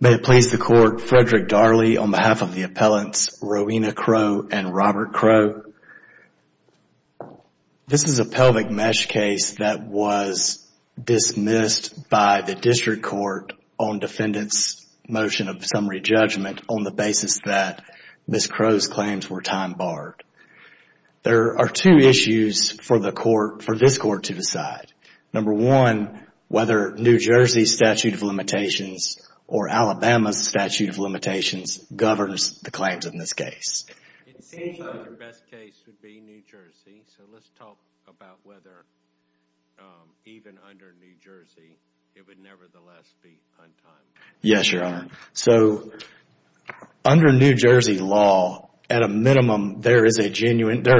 May it please the Court, Frederick Darley on behalf of the appellants Rowena Crowe and Robert Crowe, this is a pelvic mesh case that was dismissed by the District Court on defendants motion of summary judgment on the basis that Ms. Crowe's claims were time barred. There are two issues for this Court to decide. Number one, whether New Jersey's statute of limitations or Alabama's statute of limitations governs the claims in this case. It seems like the best case would be New Jersey, so let's talk about whether even under New Jersey it would nevertheless be untimely. Yes, Your Honor. So under New Jersey law, at a minimum, there are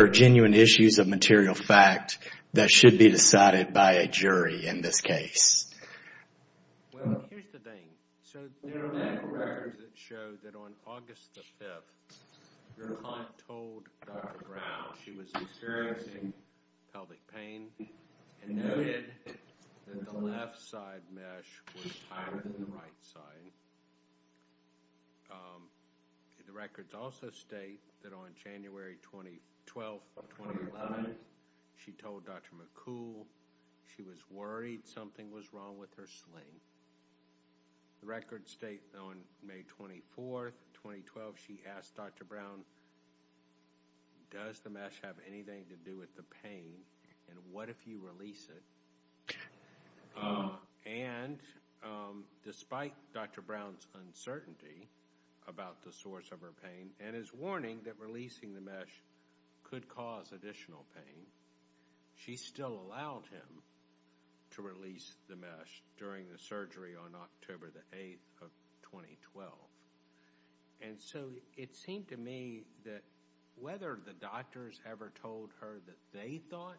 genuine issues of material fact that should be decided by a jury in this case. Well, here's the thing. So there are records that show that on August 5th, Your Honor told Dr. Brown she was experiencing pelvic pain and noted that the left side mesh was higher than the right side. The records also state that on January 12th, 2011, she told Dr. McCool she was worried something was wrong with her sling. The records state on May 24th, 2012, she asked Dr. Brown, does the mesh have anything to do with the pain and what if you release it? And despite Dr. Brown's uncertainty about the source of her pain and his warning that releasing the mesh could cause additional pain, she still allowed him to release the mesh during the surgery on October the 8th of 2012. And so it seemed to me that whether the doctors ever told her that they thought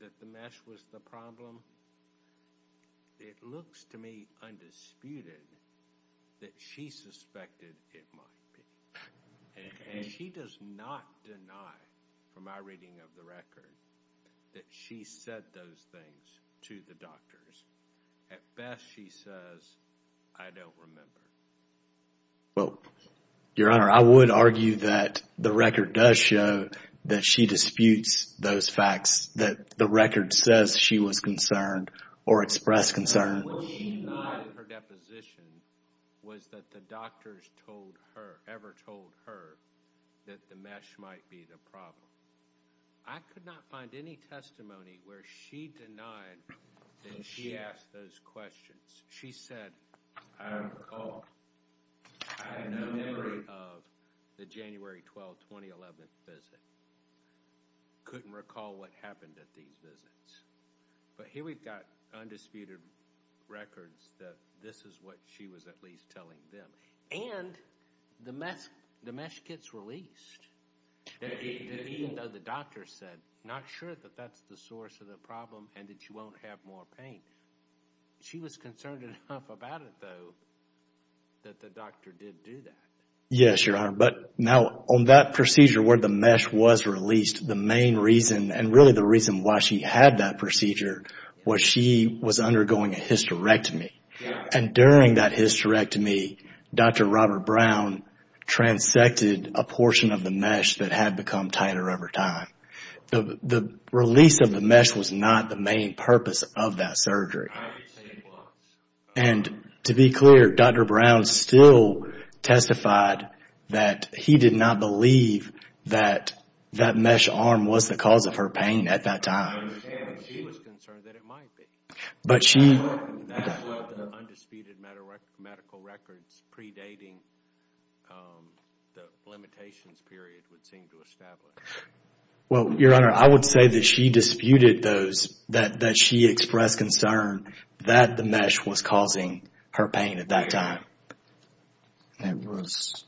that the mesh was the problem, it looks to me undisputed that she suspected it might be. And she does not deny, from my reading of the record, that she said those things to the doctors. At best, she says, I don't remember. Well, Your Honor, I would argue that the record does show that she disputes those facts that the record says she was concerned or expressed concern. What she denied in her deposition was that the doctors ever told her that the mesh might be the problem. I could not find any testimony where she denied that she asked those questions. She said, I don't recall. I have no memory of the January 12th, 2011 visit. Couldn't recall what happened at these visits. But here we've got undisputed records that this is what she was at least telling them. And the mesh gets released, even though the doctor said, not sure that that's the source of the problem and that she won't have more pain. She was concerned enough about it, though, that the doctor did do that. Yes, Your Honor. But now, on that procedure where the mesh was released, the main reason and really the reason why she had that procedure was she was undergoing a hysterectomy. And during that hysterectomy, Dr. Robert Brown transected a portion of the mesh that had become tighter over time. The release of the mesh was not the main purpose of that surgery. I would say it was. And to be clear, Dr. Brown still testified that he did not believe that that mesh arm was the cause of her pain at that time. I understand. She was concerned that it might be. But she... That's what the undisputed medical records predating the limitations period would seem to establish. Well, Your Honor, I would say that she disputed those, that she expressed concern that the mesh was causing her pain at that time. That was...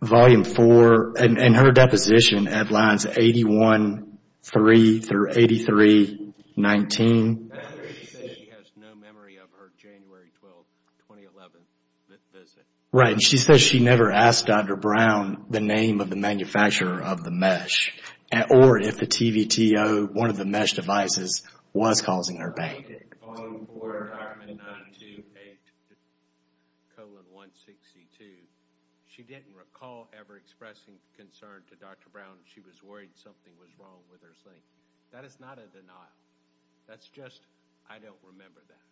Volume 4, and her deposition at lines 81-3 through 83-19. She said she has no memory of her January 12, 2011 visit. Right. And she said she never asked Dr. Brown the name of the manufacturer of the mesh. Or if the TVTO, one of the mesh devices, was causing her pain. Volume 4, document 928, colon 162. She didn't recall ever expressing concern to Dr. Brown. She was worried something was wrong with her sleep. That is not a denial. That's just, I don't remember that.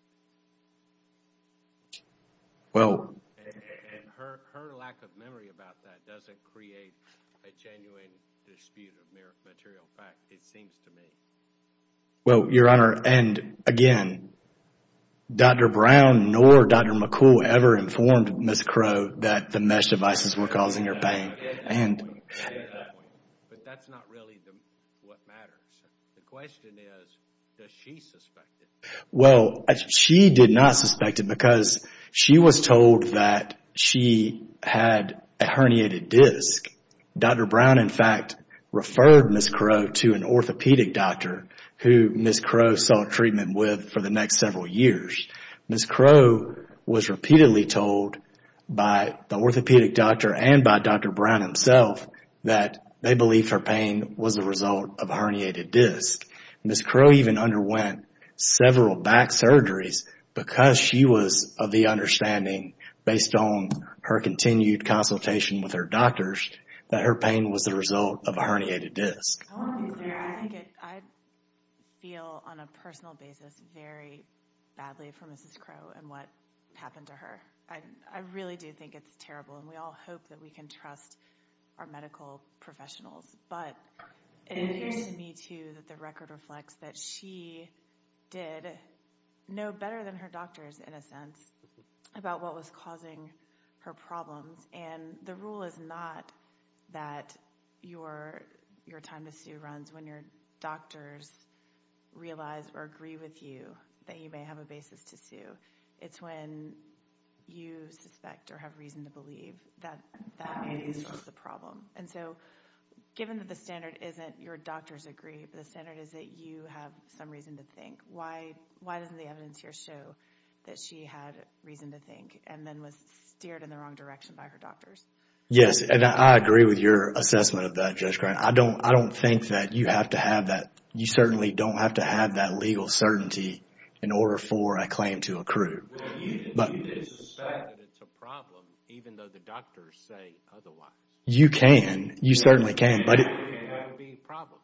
Well... And her lack of memory about that doesn't create a genuine dispute of material fact, it seems to me. Well, Your Honor, and again, Dr. Brown nor Dr. McCool ever informed Ms. Crow that the mesh devices were causing her pain. And... But that's not really what matters. The question is, does she suspect it? Well, she did not suspect it because she was told that she had a herniated disc. Dr. Brown, in fact, referred Ms. Crow to an orthopedic doctor, who Ms. Crow saw treatment with for the next several years. Ms. Crow was repeatedly told by the orthopedic doctor and by Dr. Brown himself that they believed her pain was a result of a herniated disc. Ms. Crow even underwent several back surgeries because she was of the understanding, based on her continued consultation with her doctors, that her pain was the result of a herniated disc. I want to be clear. I feel, on a personal basis, very badly for Ms. Crow and what happened to her. I really do think it's terrible. And we all hope that we can trust our medical professionals. But it appears to me, too, that the record reflects that she did know better than her doctors, in a sense, about what was causing her problems. And the rule is not that your time to sue runs when your doctors realize or agree with you that you may have a basis to sue. It's when you suspect or have reason to believe that that may be the source of the problem. And so, given that the standard isn't your doctors agree, but the standard is that you have some reason to think, why doesn't the evidence here show that she had reason to think and then was steered in the wrong direction by her doctors? Yes, and I agree with your assessment of that, Judge Grant. I don't think that you have to have that. You certainly don't have to have that legal certainty in order for a claim to accrue. But it's a fact that it's a problem, even though the doctors say otherwise. You can. You certainly can. It can be a problem.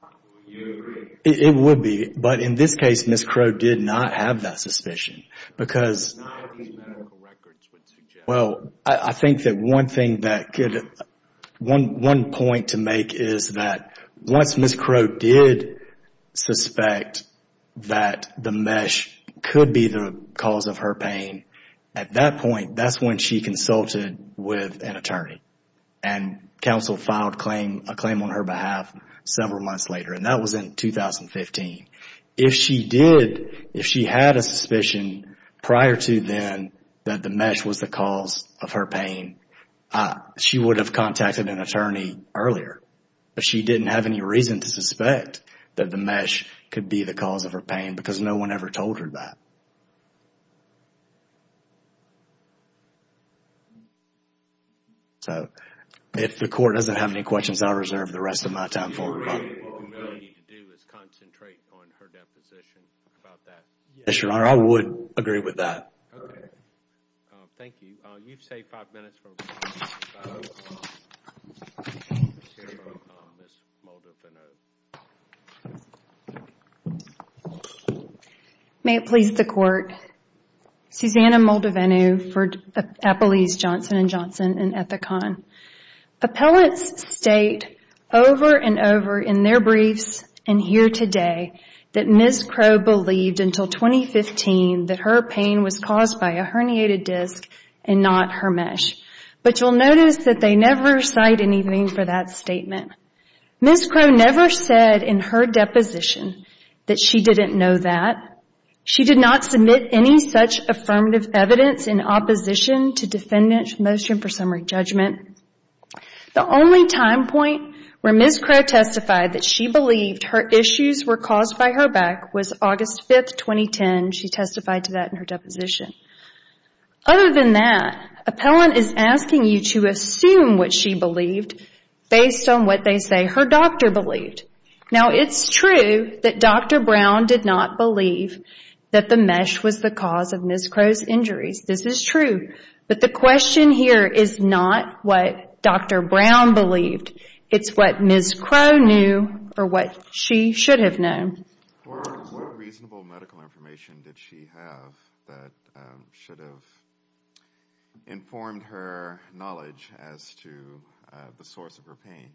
You agree. It would be. But in this case, Ms. Crow did not have that suspicion because not a few medical records would suggest that. Well, I think that one thing that could, one point to make is that once Ms. Crow did suspect that the mesh could be the cause of her pain, at that point, that's when she consulted with an attorney. And counsel filed a claim on her behalf several months later. And that was in 2015. If she did, if she had a suspicion prior to then that the mesh was the cause of her pain, she would have contacted an attorney earlier. But she didn't have any reason to suspect that the mesh could be the cause of her pain because no one ever told her that. If the court doesn't have any questions, I'll reserve the rest of my time for rebuttal. All we need to do is concentrate on her deposition about that. Yes, Your Honor. I would agree with that. Okay. Thank you. You've saved five minutes for rebuttal. May it please the Court. Susanna Moldavenu for Appellees Johnson & Johnson and Ethicon. Appellants state over and over in their briefs and here today that Ms. Crow believed until 2015 that her pain was caused by a herniated disc and not her mesh. But you'll notice that they never cite anything for that statement. Ms. Crow never said in her deposition that she didn't know that. She did not submit any such affirmative evidence in opposition to defendant's motion for summary judgment. The only time point where Ms. Crow testified that she believed her issues were caused by her back was August 5, 2010. She testified to that in her deposition. Other than that, an appellant is asking you to assume what she believed based on what they say her doctor believed. Now, it's true that Dr. Brown did not believe that the mesh was the cause of Ms. Crow's injuries. This is true. But the question here is not what Dr. Brown believed. It's what Ms. Crow knew or what she should have known. What reasonable medical information did she have that should have informed her knowledge as to the source of her pain?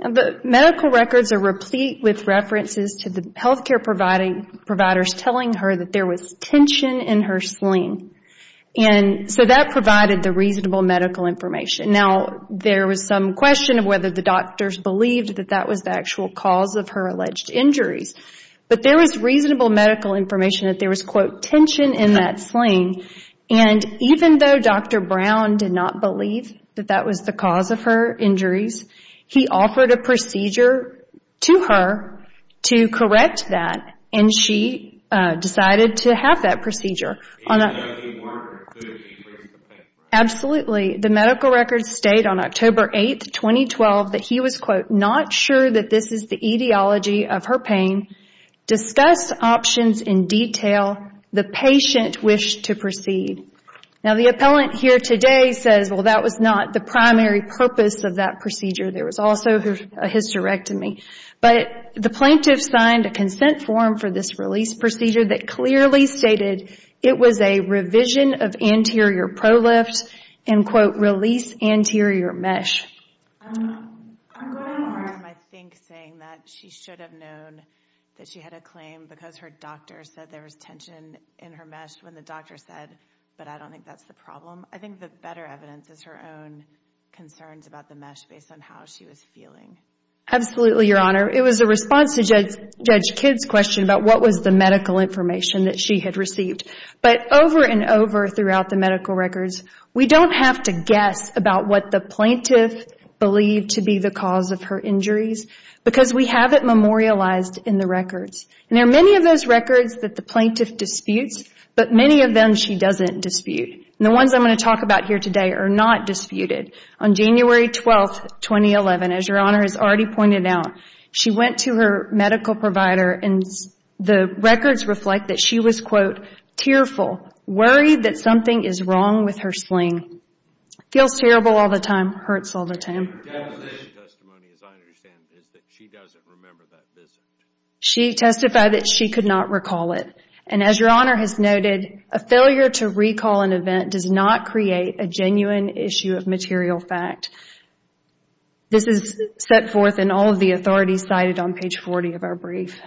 The medical records are replete with references to the health care providers telling her that there was tension in her sling. And so that provided the reasonable medical information. Now, there was some question of whether the doctors believed that that was the actual cause of her alleged injuries. But there was reasonable medical information that there was, quote, tension in that sling. And even though Dr. Brown did not believe that that was the cause of her injuries, he offered a procedure to her to correct that. And she decided to have that procedure. Absolutely. The medical records state on October 8, 2012, that he was, quote, that this is the etiology of her pain. Discuss options in detail. The patient wished to proceed. Now, the appellant here today says, well, that was not the primary purpose of that procedure. There was also a hysterectomy. But the plaintiff signed a consent form for this release procedure that clearly stated it was a revision of anterior prolift, and, quote, release anterior mesh. I'm going more, I think, saying that she should have known that she had a claim because her doctor said there was tension in her mesh when the doctor said, but I don't think that's the problem. I think the better evidence is her own concerns about the mesh based on how she was feeling. Absolutely, Your Honor. It was a response to Judge Kidd's question about what was the medical information that she had received. But over and over throughout the medical records, we don't have to guess about what the plaintiff believed to be the cause of her injuries because we have it memorialized in the records. And there are many of those records that the plaintiff disputes, but many of them she doesn't dispute. And the ones I'm going to talk about here today are not disputed. On January 12, 2011, as Your Honor has already pointed out, she went to her medical provider and the records reflect that she was, quote, tearful, worried that something is wrong with her sling. It feels terrible all the time. It hurts all the time. As I understand it, she doesn't remember that visit. She testified that she could not recall it. And as Your Honor has noted, a failure to recall an event does not create a genuine issue of material fact. This is set forth in all of the authorities cited on page 40 of our brief.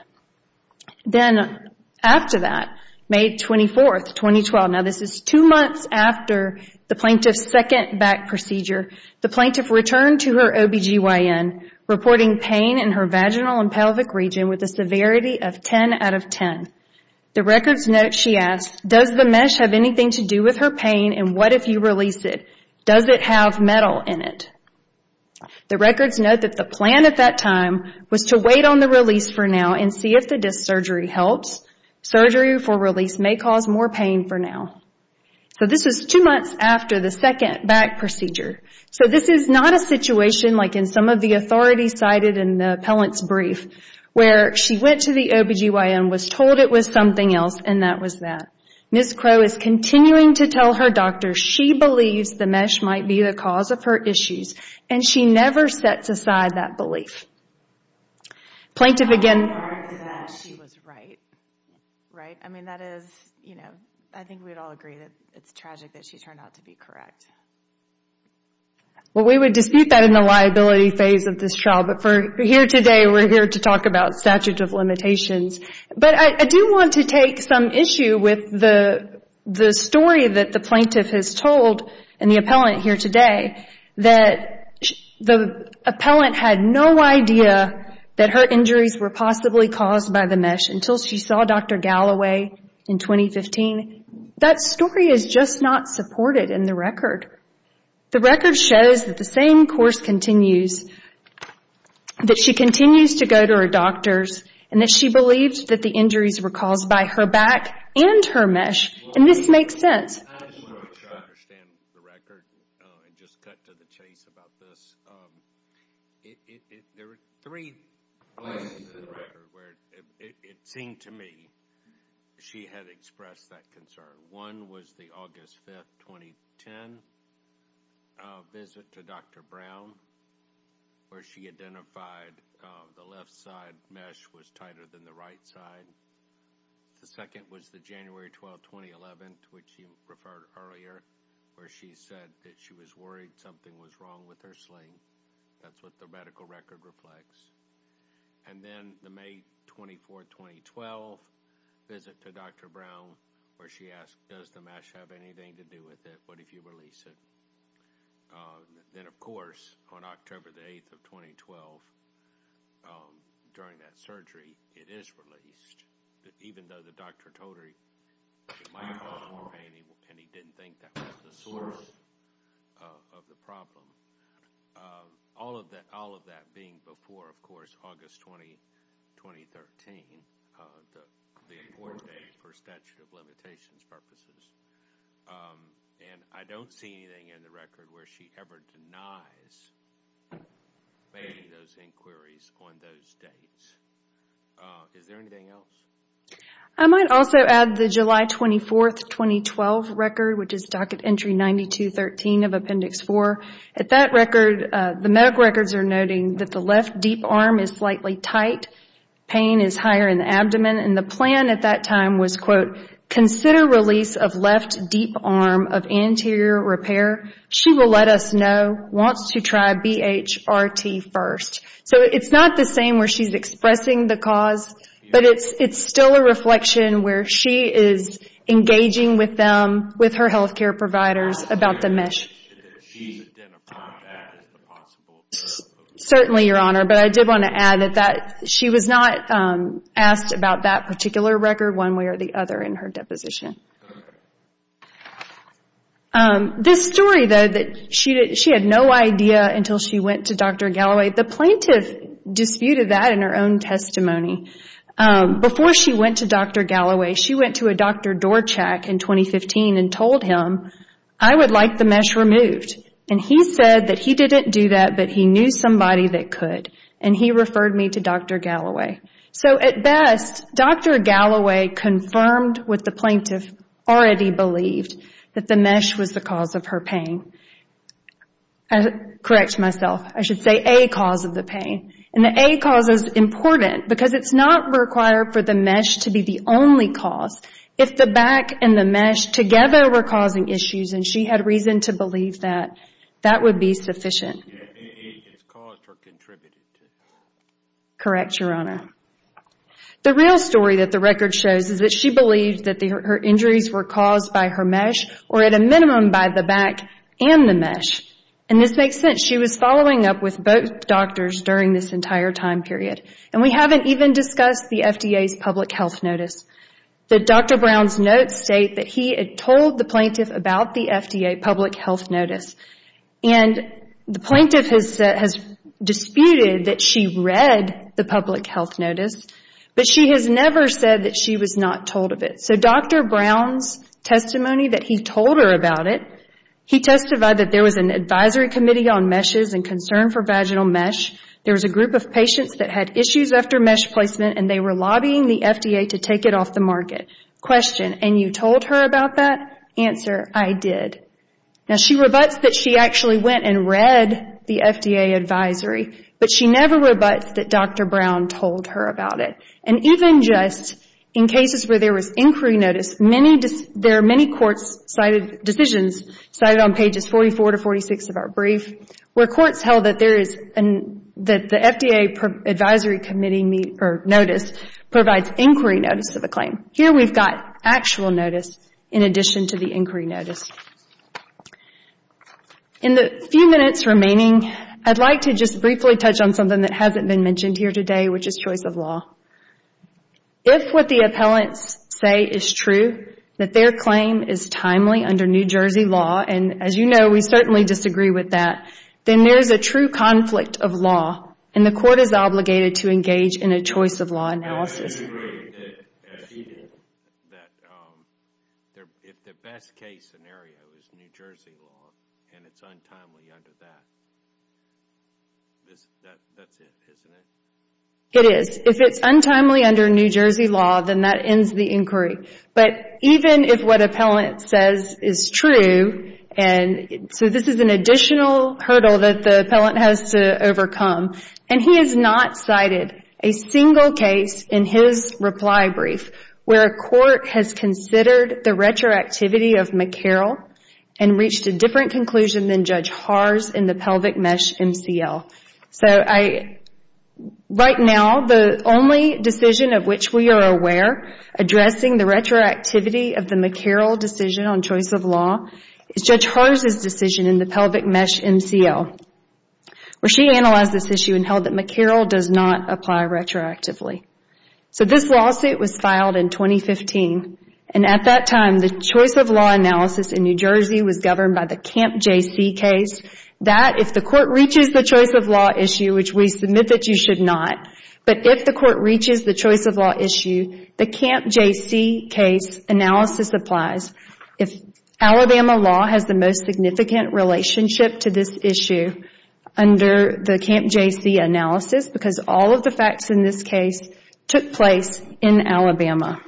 Then after that, May 24, 2012, now this is two months after the plaintiff's second back procedure, the plaintiff returned to her OB-GYN reporting pain in her vaginal and pelvic region with a severity of 10 out of 10. The records note she asked, does the mesh have anything to do with her pain and what if you release it? Does it have metal in it? The records note that the plan at that time was to wait on the release for now and see if the disc surgery helps. Surgery for release may cause more pain for now. So this is two months after the second back procedure. So this is not a situation like in some of the authorities cited in the appellant's brief where she went to the OB-GYN, was told it was something else, and that was that. Ms. Crow is continuing to tell her doctor she believes the mesh might be the cause of her issues and she never sets aside that belief. Plaintiff again... I'm sorry that she was right, right? I mean, that is, you know, I think we'd all agree that it's tragic that she turned out to be correct. Well, we would dispute that in the liability phase of this trial, but for here today we're here to talk about statute of limitations. But I do want to take some issue with the story that the plaintiff has told and the appellant here today, that the appellant had no idea that her injuries were possibly caused by the mesh until she saw Dr. Galloway in 2015. That story is just not supported in the record. The record shows that the same course continues, that she continues to go to her doctors, and that she believes that the injuries were caused by her back and her mesh, and this makes sense. I just want to try to understand the record and just cut to the chase about this. There were three places in the record where it seemed to me she had expressed that concern. One was the August 5, 2010 visit to Dr. Brown, where she identified the left side mesh was tighter than the right side. The second was the January 12, 2011, which you referred earlier, where she said that she was worried something was wrong with her sling. That's what the medical record reflects. And then the May 24, 2012 visit to Dr. Brown, where she asked, does the mesh have anything to do with it? What if you release it? Then, of course, on October 8, 2012, during that surgery, it is released, even though the doctor told her it might cause more pain and he didn't think that was the source of the problem. All of that being before, of course, August 20, 2013, the important date for statute of limitations purposes. I don't see anything in the record where she ever denies making those inquiries on those dates. Is there anything else? I might also add the July 24, 2012 record, which is Docket Entry 9213 of Appendix 4. At that record, the medical records are noting that the left deep arm is slightly tight, pain is higher in the abdomen, and the plan at that time was, quote, consider release of left deep arm of anterior repair. She will let us know, wants to try BHRT first. So it's not the same where she's expressing the cause, but it's still a reflection where she is engaging with them, with her health care providers, about the mesh. Certainly, Your Honor, but I did want to add that she was not asked about that particular record one way or the other in her deposition. This story, though, that she had no idea until she went to Dr. Galloway, the plaintiff disputed that in her own testimony. Before she went to Dr. Galloway, she went to a Dr. Dorchak in 2015 and told him, I would like the mesh removed. And he said that he didn't do that, but he knew somebody that could, and he referred me to Dr. Galloway. So at best, Dr. Galloway confirmed what the plaintiff already believed, that the mesh was the cause of her pain. Correct myself, I should say a cause of the pain. And the a cause is important because it's not required for the mesh to be the only cause. If the back and the mesh together were causing issues and she had reason to believe that, that would be sufficient. It's caused or contributed to. Correct, Your Honor. The real story that the record shows is that she believed that her injuries were caused by her mesh or at a minimum by the back and the mesh. And this makes sense. She was following up with both doctors during this entire time period. And we haven't even discussed the FDA's public health notice. Dr. Brown's notes state that he had told the plaintiff about the FDA public health notice. And the plaintiff has disputed that she read the public health notice, but she has never said that she was not told of it. So Dr. Brown's testimony that he told her about it, he testified that there was an advisory committee on meshes and concern for vaginal mesh. There was a group of patients that had issues after mesh placement and they were lobbying the FDA to take it off the market. Question, and you told her about that? Answer, I did. Now she rebuts that she actually went and read the FDA advisory, but she never rebuts that Dr. Brown told her about it. And even just in cases where there was inquiry notice, there are many courts' decisions cited on pages 44 to 46 of our brief where courts held that the FDA advisory committee notice provides inquiry notice of a claim. Here we've got actual notice in addition to the inquiry notice. In the few minutes remaining, I'd like to just briefly touch on something that hasn't been mentioned here today, which is choice of law. If what the appellants say is true, that their claim is timely under New Jersey law, and as you know we certainly disagree with that, then there is a true conflict of law and the court is obligated to engage in a choice of law analysis. We disagree that if the best case scenario is New Jersey law and it's untimely under that, that's it, isn't it? It is. If it's untimely under New Jersey law, then that ends the inquiry. But even if what appellant says is true, and so this is an additional hurdle that the appellant has to overcome, and he has not cited a single case in his reply brief where a court has considered the retroactivity of McCarroll and reached a different conclusion than Judge Harz in the Pelvic Mesh MCL. Right now, the only decision of which we are aware addressing the retroactivity of the McCarroll decision on choice of law is Judge Harz's decision in the Pelvic Mesh MCL where she analyzed this issue and held that McCarroll does not apply retroactively. So this lawsuit was filed in 2015 and at that time the choice of law analysis in New Jersey was governed by the Camp JC case, that if the court reaches the choice of law issue, which we submit that you should not, but if the court reaches the choice of law issue, the Camp JC case analysis applies. Alabama law has the most significant relationship to this issue under the Camp JC analysis because all of the facts in this case took place in Alabama.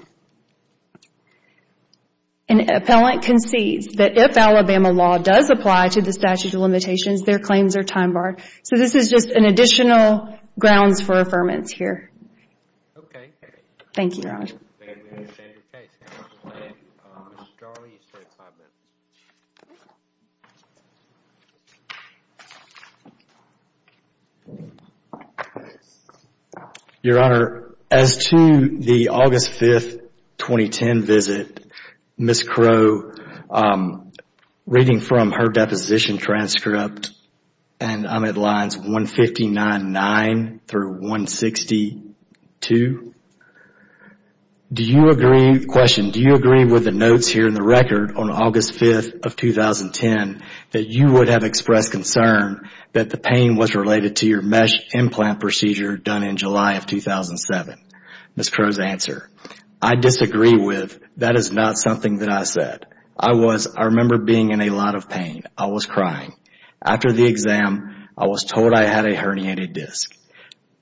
An appellant concedes that if Alabama law does apply to the statute of limitations, their claims are time barred. So this is just an additional grounds for affirmance here. Okay. Thank you. Thank you, Your Honor. Your Honor, as to the August 5, 2010 visit, Ms. Crow, reading from her deposition transcript and I'm at lines 159.9 through 162, the question, do you agree with the notes here in the record on August 5, 2010 that you would have expressed concern that the pain was related to your mesh implant procedure done in July of 2007? Ms. Crow's answer, I disagree with that is not something that I said. I remember being in a lot of pain. I was crying. After the exam, I was told I had a herniated disc.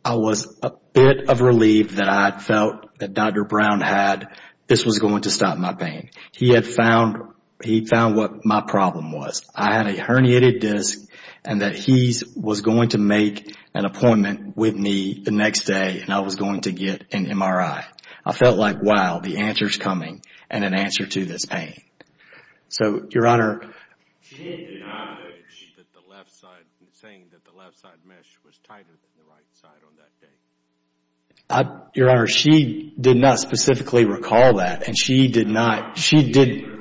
I was a bit of relief that I felt that Dr. Brown had, this was going to stop my pain. He had found what my problem was. I had a herniated disc and that he was going to make an appointment with me the next day and I was going to get an MRI. I felt like, wow, the answer's coming and an answer to this pain. So, Your Honor, She did not say that the left side, saying that the left side mesh was tighter than the right side on that day. Your Honor, she did not specifically recall that and she did not, she did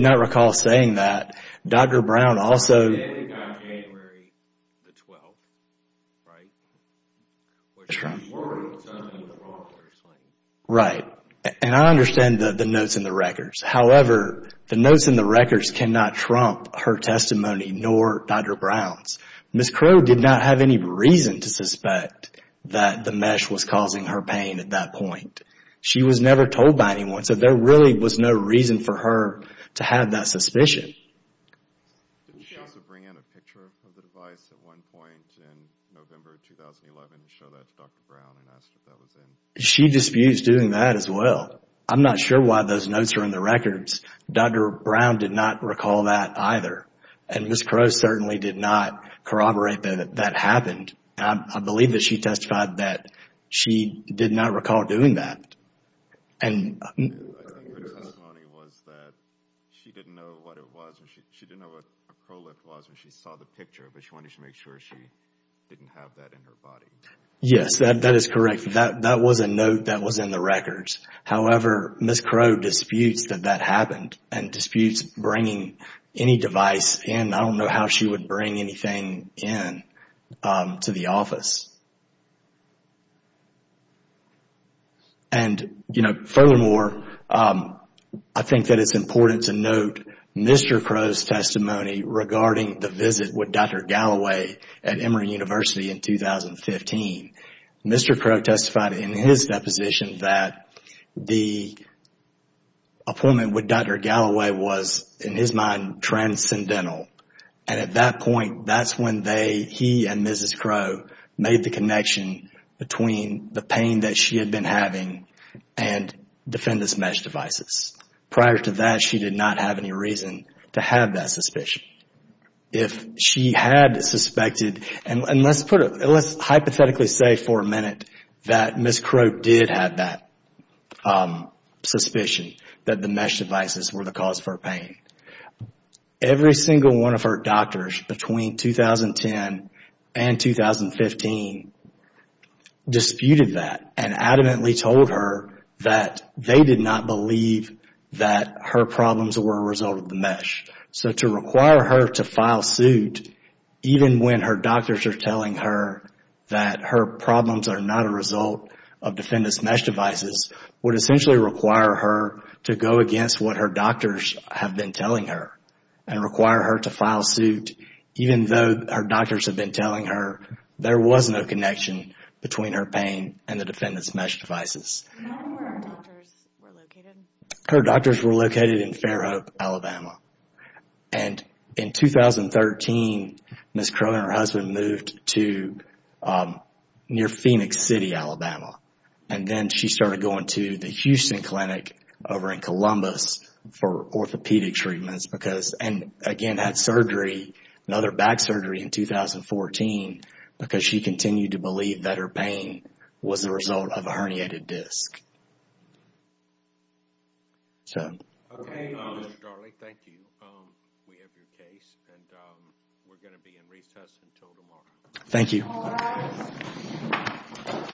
not recall saying that. Dr. Brown also, January the 12th, right? She reported something was wrong with her sleeve. Right. And I understand the notes in the records. However, the notes in the records cannot trump her testimony, nor Dr. Brown's. Ms. Crow did not have any reason to suspect that the mesh was causing her pain at that point. She was never told by anyone, so there really was no reason for her to have that suspicion. Did she also bring in a picture of the device at one point in November 2011 and show that to Dr. Brown and ask what that was in? She disputes doing that as well. I'm not sure why those notes are in the records. Dr. Brown did not recall that either. And Ms. Crow certainly did not corroborate that that happened. I believe that she testified that she did not recall doing that. I think her testimony was that she didn't know what it was, she didn't know what a Prolif was when she saw the picture, but she wanted to make sure she didn't have that in her body. Yes, that is correct. That was a note that was in the records. However, Ms. Crow disputes that that happened and disputes bringing any device in. I don't know how she would bring anything in to the office. And furthermore, I think that it's important to note Mr. Crow's testimony regarding the visit with Dr. Galloway at Emory University in 2015. Mr. Crow testified in his deposition that the appointment with Dr. Galloway was, in his mind, transcendental. And at that point, that's when he and Ms. Crow made the connection between the pain that she had been having and defendant's mesh devices. Prior to that, she did not have any reason to have that suspicion. If she had suspected, and let's hypothetically say for a minute that Ms. Crow did have that suspicion that the mesh devices were the cause for her pain. Every single one of her doctors between 2010 and 2015 disputed that and adamantly told her that they did not believe that her problems were a result of the mesh. So to require her to file suit even when her doctors are telling her that her problems are not a result of defendant's mesh devices would essentially require her to go against what her doctors have been telling her and require her to file suit even though her doctors have been telling her there was no connection between her pain and the defendant's mesh devices. Do you know where her doctors were located? Her doctors were located in Fairhope, Alabama. And in 2013, Ms. Crow and her husband moved to near Phoenix City, Alabama. And then she started going to the Houston Clinic over in Columbus for orthopedic treatments because, and again had surgery, another back surgery in 2014 because she continued to believe that her pain was a result of a herniated disc. Okay, Mr. Darley, thank you. We have your case, and we're going to be in recess until tomorrow. Thank you.